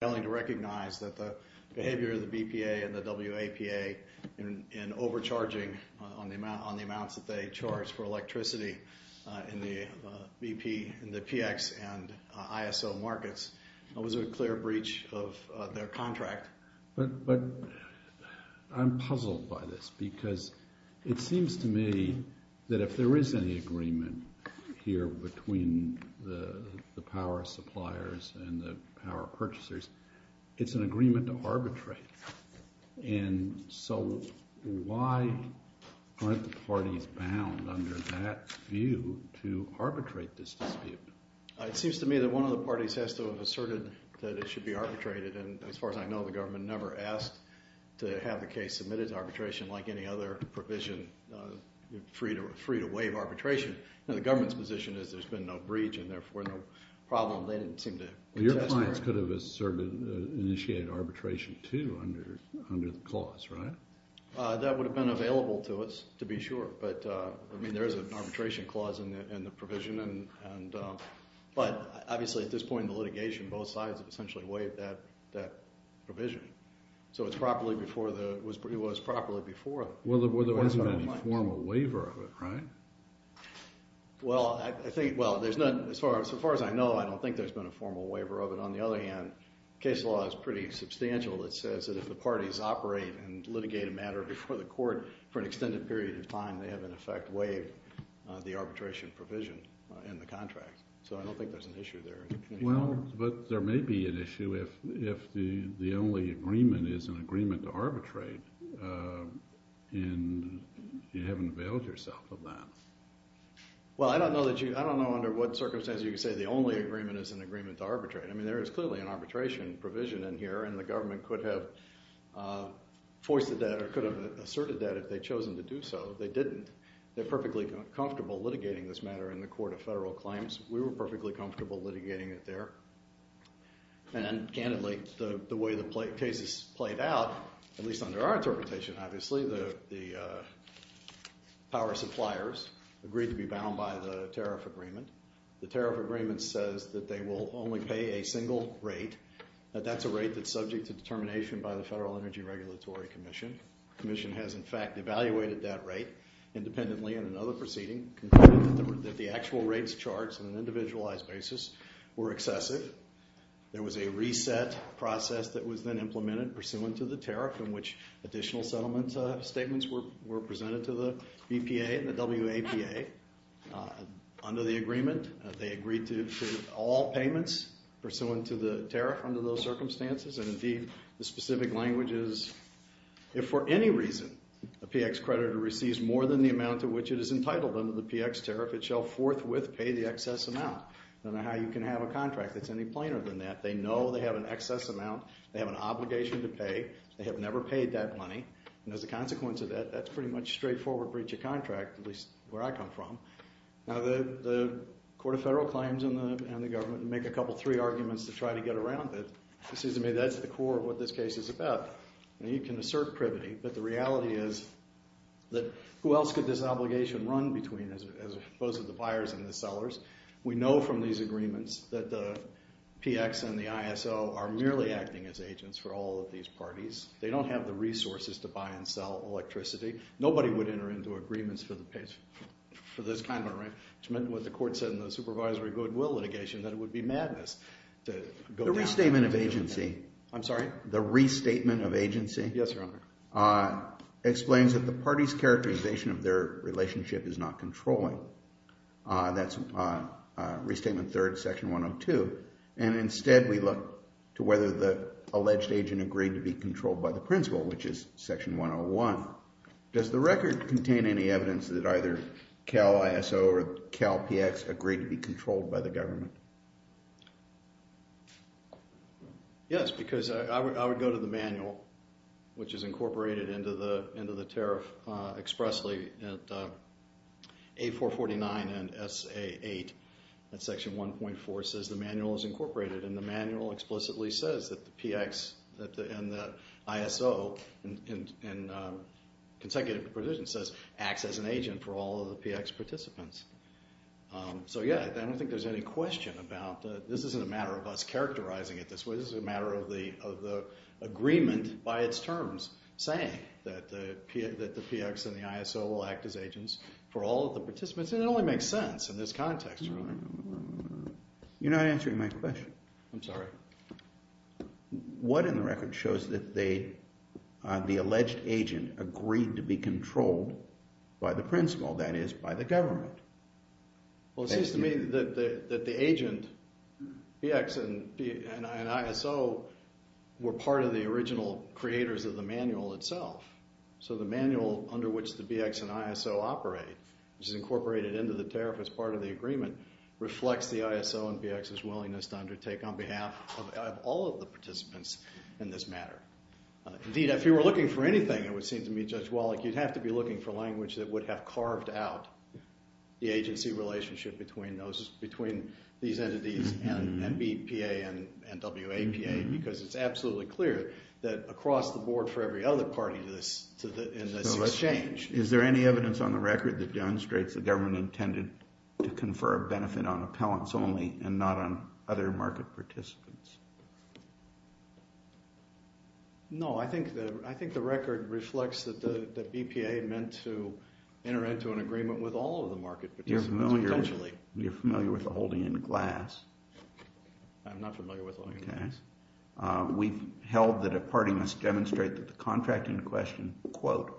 failing to recognize that the behavior of the BPA and the WAPA in overcharging on the amounts that they charge for electricity in the PX and ISO markets was a clear breach of their contract. But I'm puzzled by this, because it seems to me that if there is any agreement here between the power suppliers and the power purchasers, it's an agreement to arbitrate. And so why aren't the parties bound under that view to arbitrate this dispute? It seems to me that one of the parties has to have asserted that it should be arbitrated. And as far as I know, the government never asked to have the case submitted to arbitration like any other provision, free to waive arbitration. And the government's position is there's been no breach, and therefore, no problem. They didn't seem to contest it. Your clients could have asserted, initiated arbitration, too, under the clause, right? That would have been available to us, to be sure. But I mean, there is an arbitration clause in the provision. But obviously, at this point in the litigation, both sides have essentially waived that provision. So it's properly before the—it was properly before— Well, there hasn't been any formal waiver of it, right? Well, I think—well, as far as I know, I don't think there's been a formal waiver of it. On the other hand, case law is pretty substantial. It says that if the parties operate and litigate a matter before the court for an extended period of time, they have, in effect, waived the arbitration provision in the contract. So I don't think there's an issue there. Well, I don't know that you—I don't know under what circumstances you could say the only agreement is an agreement to arbitrate. I mean, there is clearly an arbitration provision in here, and the government could have foisted that or could have asserted that if they'd chosen to do so. They didn't. They're perfectly comfortable litigating this matter in the court of federal claims. We were perfectly comfortable litigating it there. And, candidly, the way the cases played out, at least under our interpretation, obviously, the power suppliers agreed to be bound by the tariff agreement. The tariff agreement says that they will only pay a single rate, that that's a rate that's subject to determination by the Federal Energy Regulatory Commission. The commission has, in fact, evaluated that rate independently in another proceeding, concluded that the actual rates charts on an individualized basis were excessive. There was a reset process that was then implemented pursuant to the tariff in which additional settlement statements were presented to the BPA and the WAPA. Under the agreement, they agreed to all payments pursuant to the tariff under those circumstances. And, indeed, the specific language is, if for any reason a PX creditor receives more than the amount to which it is entitled under the PX tariff, it shall forthwith pay the excess amount. I don't know how you can have a contract that's any plainer than that. They know they have an excess amount. They have an obligation to pay. They have never paid that money. And, as a consequence of that, that's pretty much straightforward breach of contract, at least where I come from. Now, the court of federal claims and the government make a couple, three arguments to try to get around it. It seems to me that's the core of what this case is about. And you can assert privity, but the reality is that who else could this obligation run between as opposed to the buyers and the sellers? We know from these agreements that the PX and the ISO are merely acting as agents for all of these parties. They don't have the resources to buy and sell electricity. Nobody would enter into agreements for this kind of arrangement, what the court said in the supervisory goodwill litigation, that it would be madness to go down. The restatement of agency. I'm sorry? The restatement of agency. Yes, Your Honor. Explains that the party's characterization of their relationship is not controlling. That's restatement third, section 102. And, instead, we look to whether the alleged agent agreed to be controlled by the principal, which is section 101. Does the record contain any evidence that either Cal ISO or Cal PX agreed to be controlled by the government? Yes, because I would go to the manual, which is incorporated into the tariff expressly at A449 and SA8, and section 1.4 says the manual is incorporated. And the manual explicitly says that the PX and the ISO in consecutive provision says, acts as an agent for all of the PX participants. So, yeah, I don't think there's any question about that. This isn't a matter of us characterizing it this way. This is a matter of the agreement by its terms saying that the PX and the ISO will act as agents for all of the participants. And it only makes sense in this context, Your Honor. You're not answering my question. I'm sorry. What in the record shows that the alleged agent agreed to be controlled by the principal, that is, by the government? Well, it seems to me that the agent, the PX and ISO, were part of the original creators of the manual itself. So the manual under which the PX and ISO operate, which is incorporated into the tariff as part of the agreement, reflects the ISO and PX's willingness to undertake on behalf of all of the participants in this matter. Indeed, if you were looking for anything, it would seem to me, Judge Wallach, you'd have to be looking for language that would have carved out the agency relationship between these entities and BPA and WAPA, because it's absolutely clear that across the board for every other party in this exchange. Is there any evidence on the record that demonstrates the government intended to confer a benefit on appellants only and not on other market participants? No. I think the record reflects that BPA meant to enter into an agreement with all of the market participants, potentially. You're familiar with the holding in glass? I'm not familiar with the holding in glass. We've held that a party must demonstrate that the contract in question, quote,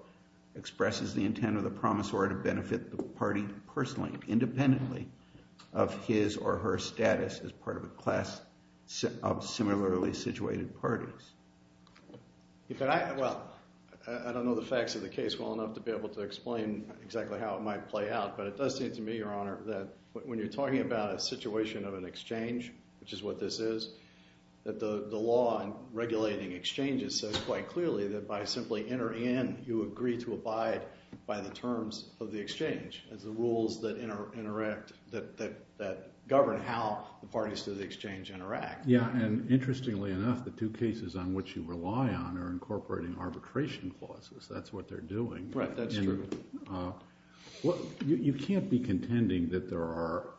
expresses the intent of the promisor to benefit the party personally, independently of his or her status as part of a class of similarly situated parties. Well, I don't know the facts of the case well enough to be able to explain exactly how it might play out, but it does seem to me, Your Honor, that when you're talking about a situation of an exchange, which is what this is, that the law in regulating exchanges says quite clearly that by simply entering in, you agree to abide by the terms of the exchange as the rules that interact, that govern how the parties to the exchange interact. Yeah, and interestingly enough, the two cases on which you rely on are incorporating arbitration clauses. That's what they're doing. Right, that's true. Well, you can't be contending that there are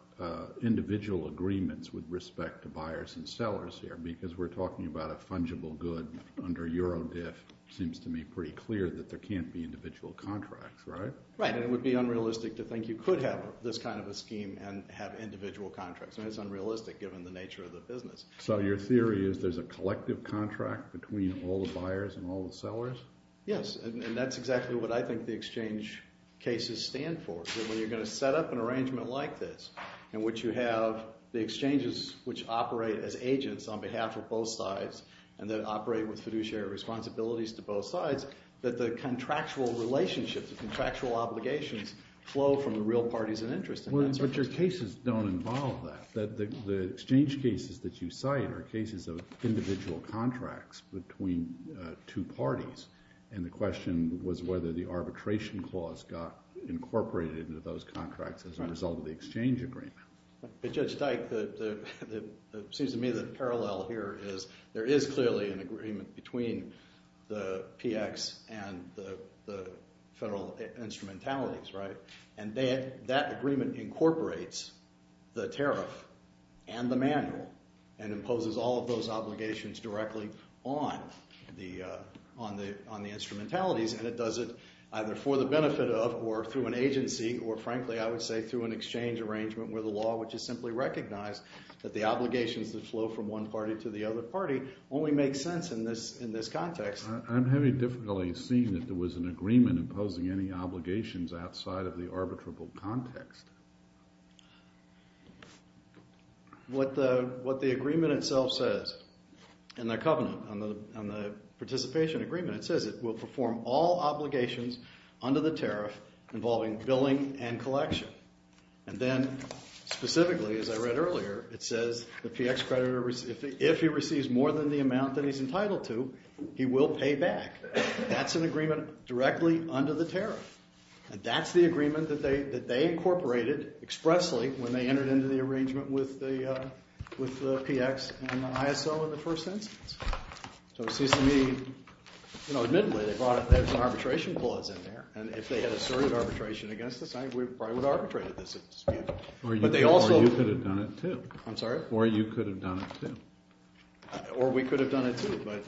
individual agreements with respect to buyers and sellers here, because we're talking about a fungible good under Eurodif. Seems to me pretty clear that there can't be individual contracts, right? Right, and it would be unrealistic to think you could have this kind of a scheme and have individual contracts, and it's unrealistic given the nature of the business. So your theory is there's a collective contract between all the buyers and all the sellers? Yes, and that's exactly what I think the exchange cases stand for, that when you're going to set up an arrangement like this, in which you have the exchanges which operate as agents on behalf of both sides, and then operate with fiduciary responsibilities to both sides, that the contractual relationships, the contractual obligations flow from the real parties of interest. Well, but your cases don't involve that, that the exchange cases that you cite are cases of individual contracts between two parties. And the question was whether the arbitration clause got incorporated into those contracts as a result of the exchange agreement. But Judge Dyke, it seems to me the parallel here is there is clearly an agreement between the PX and the federal instrumentalities, right? And that agreement incorporates the tariff and the manual, and imposes all of those obligations directly on the instrumentalities. And it does it either for the benefit of, or through an agency, or frankly, I would say through an exchange arrangement where the law, which is simply recognized, that the obligations that flow from one party to the other party only make sense in this context. I'm having difficulty seeing that there was an agreement imposing any obligations outside of the arbitrable context. What the agreement itself says in the covenant, on the participation agreement, it says it will perform all obligations under the tariff involving billing and collection. And then specifically, as I read earlier, it says the PX creditor, if he receives more than the amount that he's entitled to, he will pay back. That's an agreement directly under the tariff. And that's the agreement that they incorporated expressly when they entered into the arrangement with the PX and the ISO in the first instance. So it seems to me, you know, admittedly, they brought it, there's an arbitration clause in there. And if they had asserted arbitration against this, I think we probably would have arbitrated this at this meeting. But they also. Or you could have done it too. I'm sorry? Or you could have done it too. Or we could have done it too. But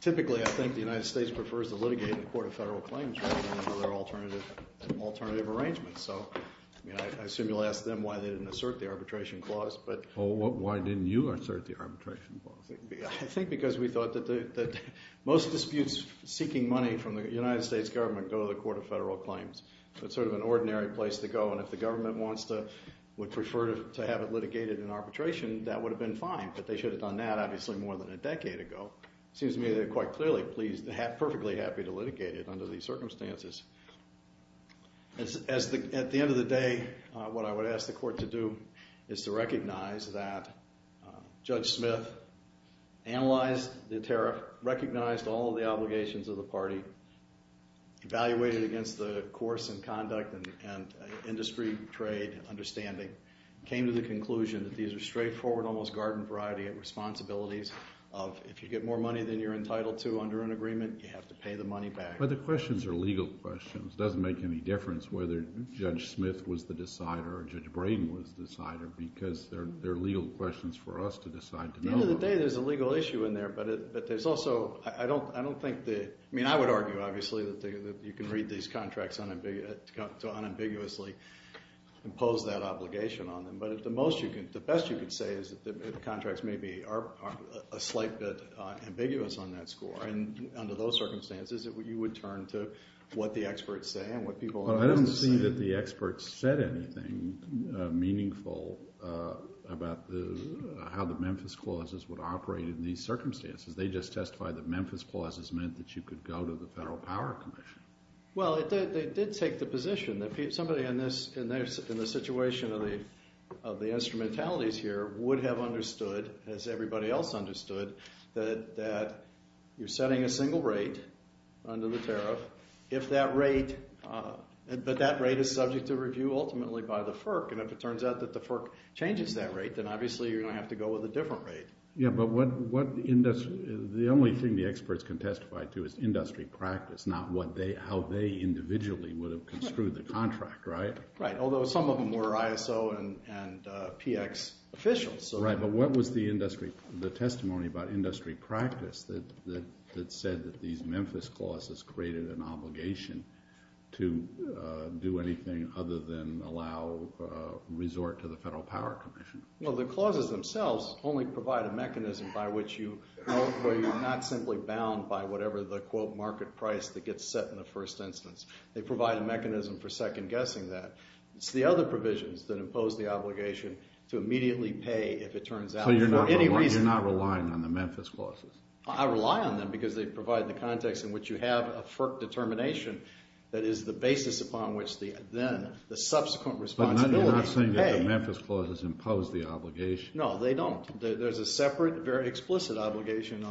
typically, I think the United States prefers to litigate in a court of federal claims rather than under their alternative arrangements. So, I mean, I assume you'll ask them why they didn't assert the arbitration clause, but. Oh, why didn't you assert the arbitration clause? I think because we thought that most disputes seeking money from the United States government go to the court of federal claims. It's sort of an ordinary place to go. And if the government wants to, would prefer to have it litigated in arbitration, that would have been fine. But they should have done that, obviously, more than a decade ago. Seems to me they're quite clearly perfectly happy to litigate it under these circumstances. At the end of the day, what I would ask the court to do is to recognize that Judge Smith analyzed the tariff, recognized all of the obligations of the party, evaluated against the course and conduct and industry, trade, understanding, came to the conclusion that these are straightforward, almost garden variety responsibilities of if you get more money than you're entitled to under an agreement, you have to pay the money back. But the questions are legal questions. It doesn't make any difference whether Judge Smith was the decider or Judge Brayden was the decider, because they're legal questions for us to decide to know. At the end of the day, there's a legal issue in there, but there's also, I don't think that, I mean, I would argue, obviously, that you can read these contracts to unambiguously impose that obligation on them. But the best you could say is that the contracts maybe are a slight bit ambiguous on that score. And under those circumstances, you would turn to what the experts say and what people in the business say. I don't see that the experts said anything meaningful about how the Memphis clauses would operate in these circumstances. They just testified that Memphis clauses meant that you could go to the Federal Power Commission. Well, they did take the position that somebody in the situation of the instrumentalities here would have understood, as everybody else understood, that you're setting a single rate under the tariff, but that rate is subject to review ultimately by the FERC. And if it turns out that the FERC changes that rate, then obviously you're going to have to go with a different rate. Yeah, but the only thing the experts can testify to is industry practice, not how they individually would have construed the contract, right? Right, although some of them were ISO and PX officials. Right, but what was the testimony about industry practice that said that these Memphis clauses created an obligation to do anything other than allow resort to the Federal Power Commission? Well, the clauses themselves only provide a mechanism by which you're not simply bound by whatever the, quote, market price that gets set in the first instance. They provide a mechanism for second-guessing that. It's the other provisions that impose the obligation to immediately pay if it turns out for any reason. So you're not relying on the Memphis clauses? I rely on them because they provide the context in which you have a FERC determination that is the basis upon which then the subsequent responsibility to pay. But you're not saying that the Memphis clauses impose the obligation? No, they don't. There's a separate, very explicit obligation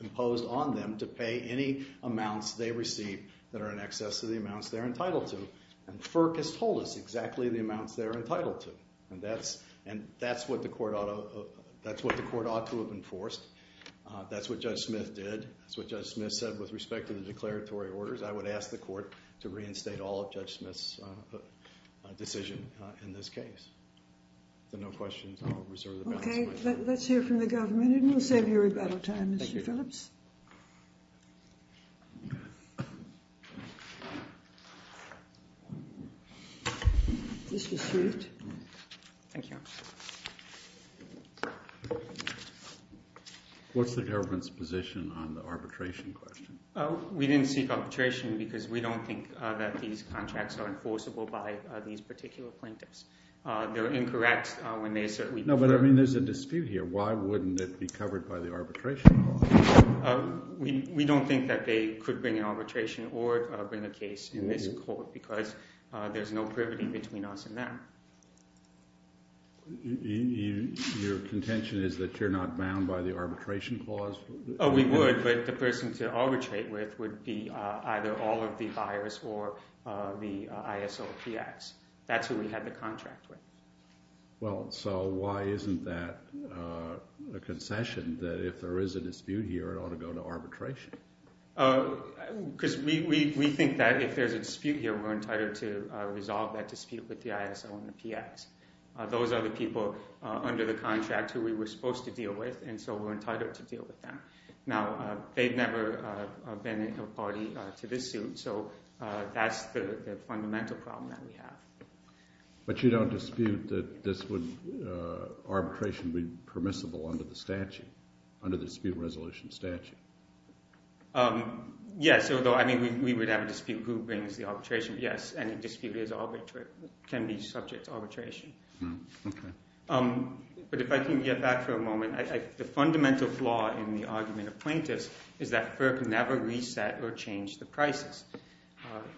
imposed on them to pay any amounts they receive that are in excess of the amounts they're entitled to. And FERC has told us exactly the amounts they're entitled to. And that's what the court ought to have enforced. That's what Judge Smith did. That's what Judge Smith said with respect to the declaratory orders. I would ask the court to reinstate all of Judge Smith's decision in this case. If there are no questions, I'll reserve the balance of my time. OK, let's hear from the government. And then we'll save your rebuttal time, Mr. Phillips. This was received. Thank you. What's the government's position on the arbitration question? We didn't seek arbitration because we don't think that these contracts are enforceable by these particular plaintiffs. They're incorrect when they assert we prefer. No, but I mean, there's a dispute here. Why wouldn't it be covered by the arbitration clause? We don't think that they could bring an arbitration or bring a case in this court, because there's no privity between us and them. Your contention is that you're not bound by the arbitration clause? We would, but the person to arbitrate with would be either all of the buyers or the ISOPX. That's who we had the contract with. Well, so why isn't that a concession, that if there is a dispute here, it ought to go to arbitration? Because we think that if there's a dispute here, we're entitled to resolve that dispute with the ISO and the PX. Those are the people under the contract who we were supposed to deal with, and so we're entitled to deal with them. Now, they've never been a party to this suit, so that's the fundamental problem that we have. But you don't dispute that this would arbitration be permissible under the statute, under the dispute resolution statute? Yes, although, I mean, we would have a dispute who brings the arbitration. Yes, any dispute can be subject to arbitration. But if I can get back for a moment, the fundamental flaw in the argument of plaintiffs is that FERC never reset or changed the prices.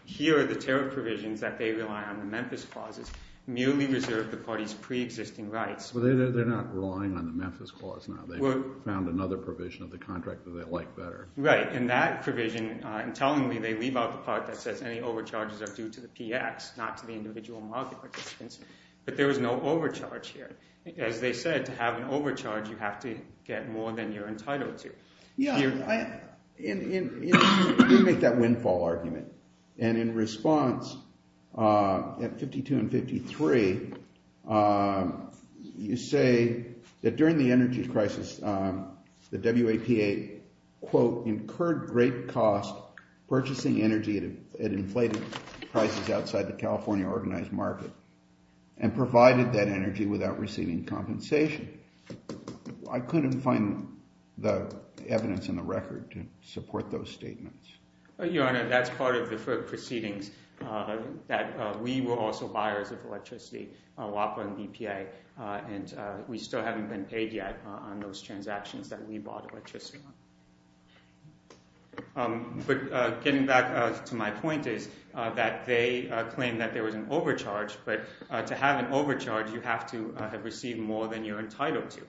Here, the tariff provisions that they rely on, the Memphis clauses, merely reserve the party's pre-existing rights. Well, they're not relying on the Memphis clause now. They found another provision of the contract that they like better. Right, and that provision, intelligently, they leave out the part that says any overcharges are due to the PX, not to the individual market participants. But there was no overcharge here. As they said, to have an overcharge, you have to get more than you're entitled to. Yeah, you make that windfall argument. And in response, at 52 and 53, you say that during the energy crisis, the WAPA, quote, incurred great cost purchasing energy at inflated prices outside the California organized market and provided that energy without receiving compensation. I couldn't find the evidence in the record to support those statements. Your Honor, that's part of the FERC proceedings, that we were also buyers of electricity, WAPA and BPA. And we still haven't been paid yet on those transactions that we bought electricity on. But getting back to my point is that they claimed that there was an overcharge. But to have an overcharge, you have to have received more than you're entitled to.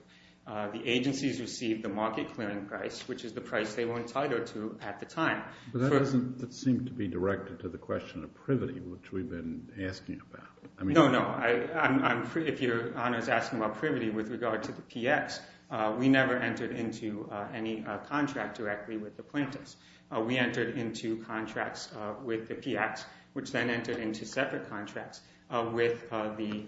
The agencies received the market clearing price, which is the price they were entitled to at the time. But that doesn't seem to be directed to the question of privity, which we've been asking about. No, no. If Your Honor is asking about privity with regard to the PX, we never entered into any contract directly with the plaintiffs. We entered into contracts with the PX, which then entered into separate contracts with the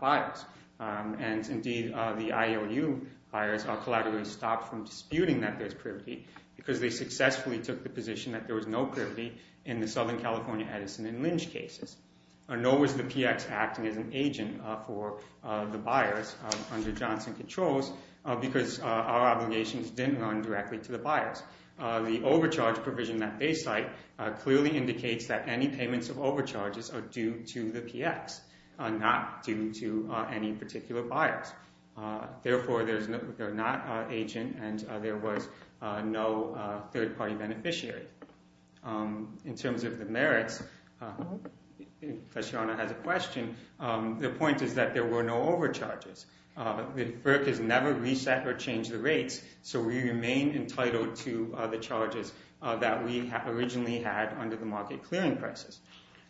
buyers. And indeed, the IOU buyers are collaterally stopped from disputing that there's privity, because they successfully took the position that there was no privity in the Southern California Edison and Lynch cases. Nor was the PX acting as an agent for the buyers under Johnson Controls, because our obligations didn't run directly to the buyers. The overcharge provision that they cite clearly indicates that any payments of overcharges are due to the PX, not due to any particular buyers. Therefore, they're not agent, and there was no third-party beneficiary. In terms of the merits, if Professor Your Honor has a question, the point is that there were no overcharges. The FERC has never reset or changed the rates, so we remain entitled to the charges that we originally had under the market clearing prices.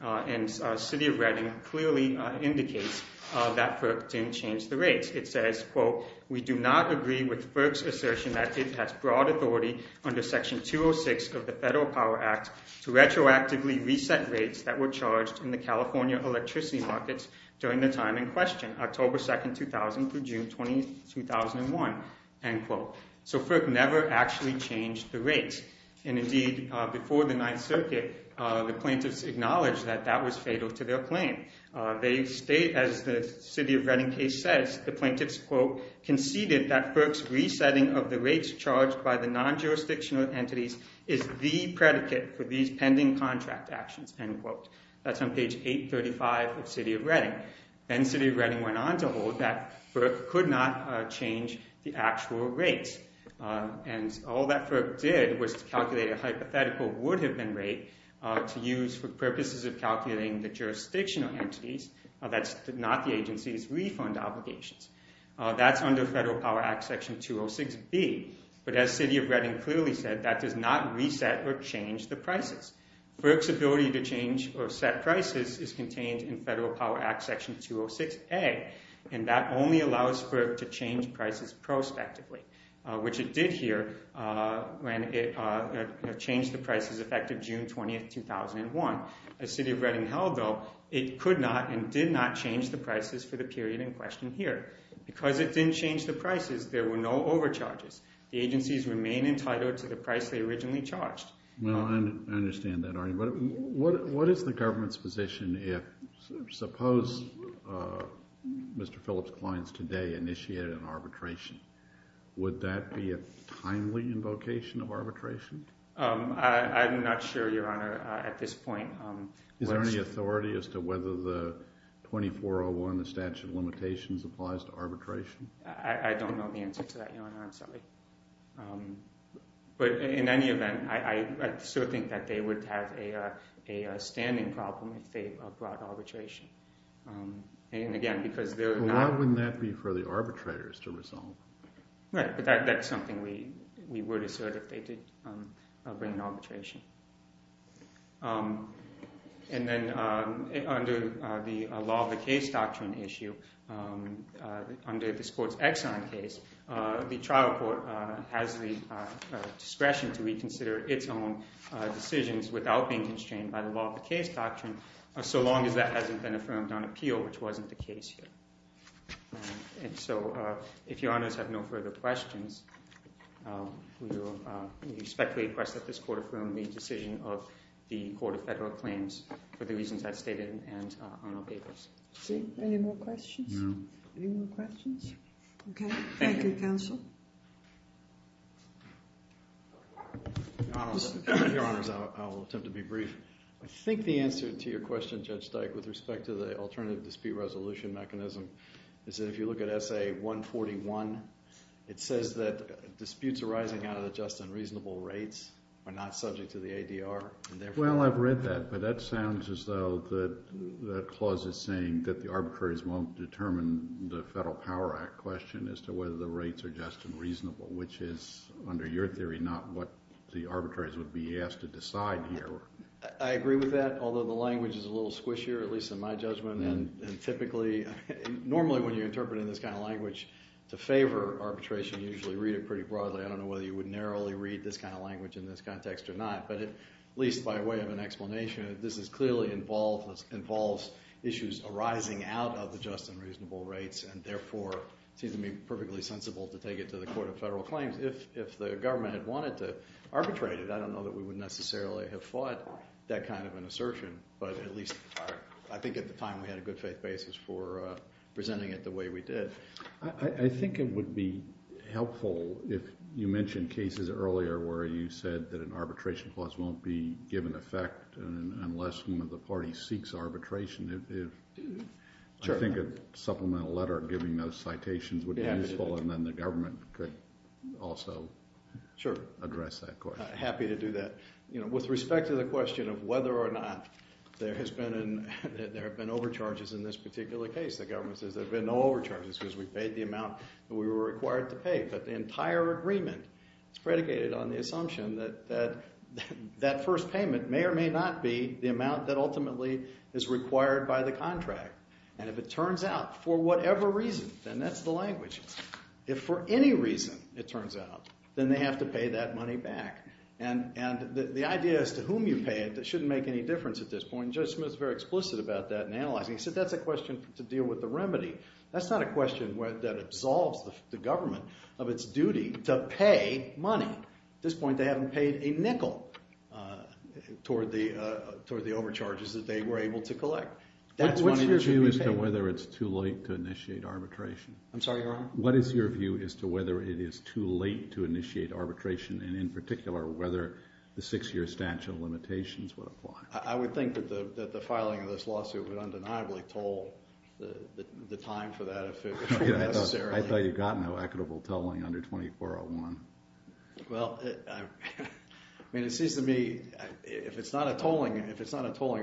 And the city of Reading clearly indicates that FERC didn't change the rates. It says, quote, we do not agree with FERC's assertion that it has broad authority under Section 206 of the Federal Power Act to retroactively reset rates that were charged in the California electricity markets during the time in question, October 2, 2000 through June 20, 2001, end quote. So FERC never actually changed the rates. And indeed, before the Ninth Circuit, the plaintiffs acknowledged that that was fatal to their claim. As the city of Reading case says, the plaintiffs, quote, conceded that FERC's resetting of the rates charged by the non-jurisdictional entities is the predicate for these pending contract actions, end quote. That's on page 835 of city of Reading. Then city of Reading went on to hold that FERC could not change the actual rates. And all that FERC did was to calculate a hypothetical would-have-been rate to use for purposes of calculating the jurisdictional entities. That's not the agency's refund obligations. That's under Federal Power Act Section 206b. But as city of Reading clearly said, that does not reset or change the prices. FERC's ability to change or set prices is contained in Federal Power Act Section 206a. And that only allows FERC to change prices prospectively, which it did here when it changed the prices effective June 20, 2001. As city of Reading held, though, it could not and did not change the prices for the period in question here. Because it didn't change the prices, there were no overcharges. The agencies remain entitled to the price they originally charged. Well, I understand that, Arnie. But what is the government's position if, suppose Mr. Phillips Klein's today initiated an arbitration? Would that be a timely invocation of arbitration? I'm not sure, Your Honor, at this point. Is there any authority as to whether the 2401, the statute of limitations, applies to arbitration? I don't know the answer to that, Your Honor. I'm sorry. But in any event, I still think that they would have a standing problem if they brought arbitration. And again, because they're not- Well, why wouldn't that be for the arbitrators to resolve? Right, but that's something we would assert if they did bring an arbitration. And then under the law of the case doctrine issue, under this court's Exxon case, the trial court has the discretion to reconsider its own decisions without being constrained by the law of the case doctrine, so long as that hasn't been affirmed on appeal, which wasn't the case here. And so if Your Honors have no further questions, we expect to request that this court affirm the decision of the Court of Federal Claims for the reasons I've stated and on our papers. Any more questions? Any more questions? OK. Thank you, counsel. Your Honors, I will attempt to be brief. I think the answer to your question, Judge Dyke, with respect to the alternative dispute resolution mechanism is that if you look at SA-141, it says that disputes arising out of just unreasonable rates are not subject to the ADR. Well, I've read that. But that sounds as though that clause is saying that the arbitrators won't determine the Federal whether the rates are just and reasonable, which is, under your theory, not what the arbitrators would be asked to decide here. I agree with that, although the language is a little squishier, at least in my judgment. And typically, normally when you're interpreting this kind of language to favor arbitration, you usually read it pretty broadly. I don't know whether you would narrowly read this kind of language in this context or not. But at least by way of an explanation, this clearly involves issues arising out of the just and reasonable rates, and therefore, it seems to me perfectly sensible to take it to the Court of Federal Claims. If the government had wanted to arbitrate it, I don't know that we would necessarily have fought that kind of an assertion. But at least I think at the time, we had a good faith basis for presenting it the way we did. I think it would be helpful if you mentioned cases earlier where you said that an arbitration clause won't be given effect unless one of the parties seeks arbitration. Sure. I think a supplemental letter giving those citations would be useful, and then the government could also address that question. Happy to do that. With respect to the question of whether or not there have been overcharges in this particular case, the government says there have been no overcharges because we paid the amount that we were required to pay. But the entire agreement is predicated on the assumption that that first payment may or may not be the amount that ultimately is required by the contract. And if it turns out, for whatever reason, then that's the language. If for any reason it turns out, then they have to pay that money back. And the idea as to whom you pay it shouldn't make any difference at this point. Judge Smith is very explicit about that in analyzing. He said that's a question to deal with the remedy. That's not a question that absolves the government of its duty to pay money. At this point, they haven't paid a nickel toward the overcharges that they were able to collect. That's money that should be paid. What's your view as to whether it's too late to initiate arbitration? I'm sorry, Your Honor? What is your view as to whether it is too late to initiate arbitration, and in particular, whether the six-year statute limitations would apply? I would think that the filing of this lawsuit would undeniably toll the time for that if it were necessary. I thought you got no equitable tolling under 2401. Well, I mean, it seems to me, if it's not a tolling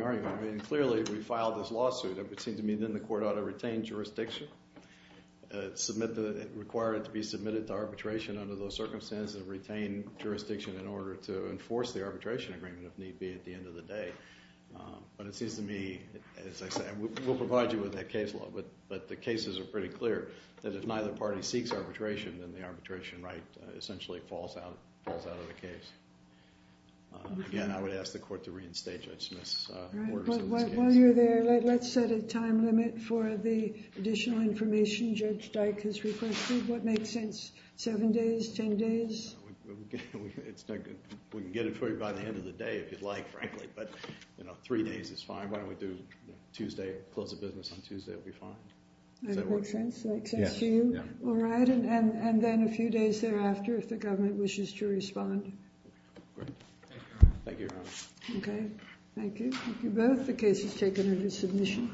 argument, clearly, we filed this lawsuit. It would seem to me then the court ought to retain jurisdiction, require it to be submitted to arbitration under those circumstances, retain jurisdiction in order to enforce the arbitration agreement, if need be, at the end of the day. But it seems to me, as I said, we'll provide you with that case law. But the cases are pretty clear that if neither party seeks arbitration, then the arbitration right essentially falls out of the case. Again, I would ask the court to reinstate Judge Smith's orders. While you're there, let's set a time limit for the additional information Judge Dyke has requested. What makes sense? Seven days, 10 days? It's not good. We can get it for you by the end of the day, if you'd like, frankly. But three days is fine. Why don't we do Tuesday, close the business on Tuesday? I will translate that to you. All right. And then a few days thereafter, if the government wishes to respond. Thank you. OK. Thank you. Thank you both. The case is taken under submission.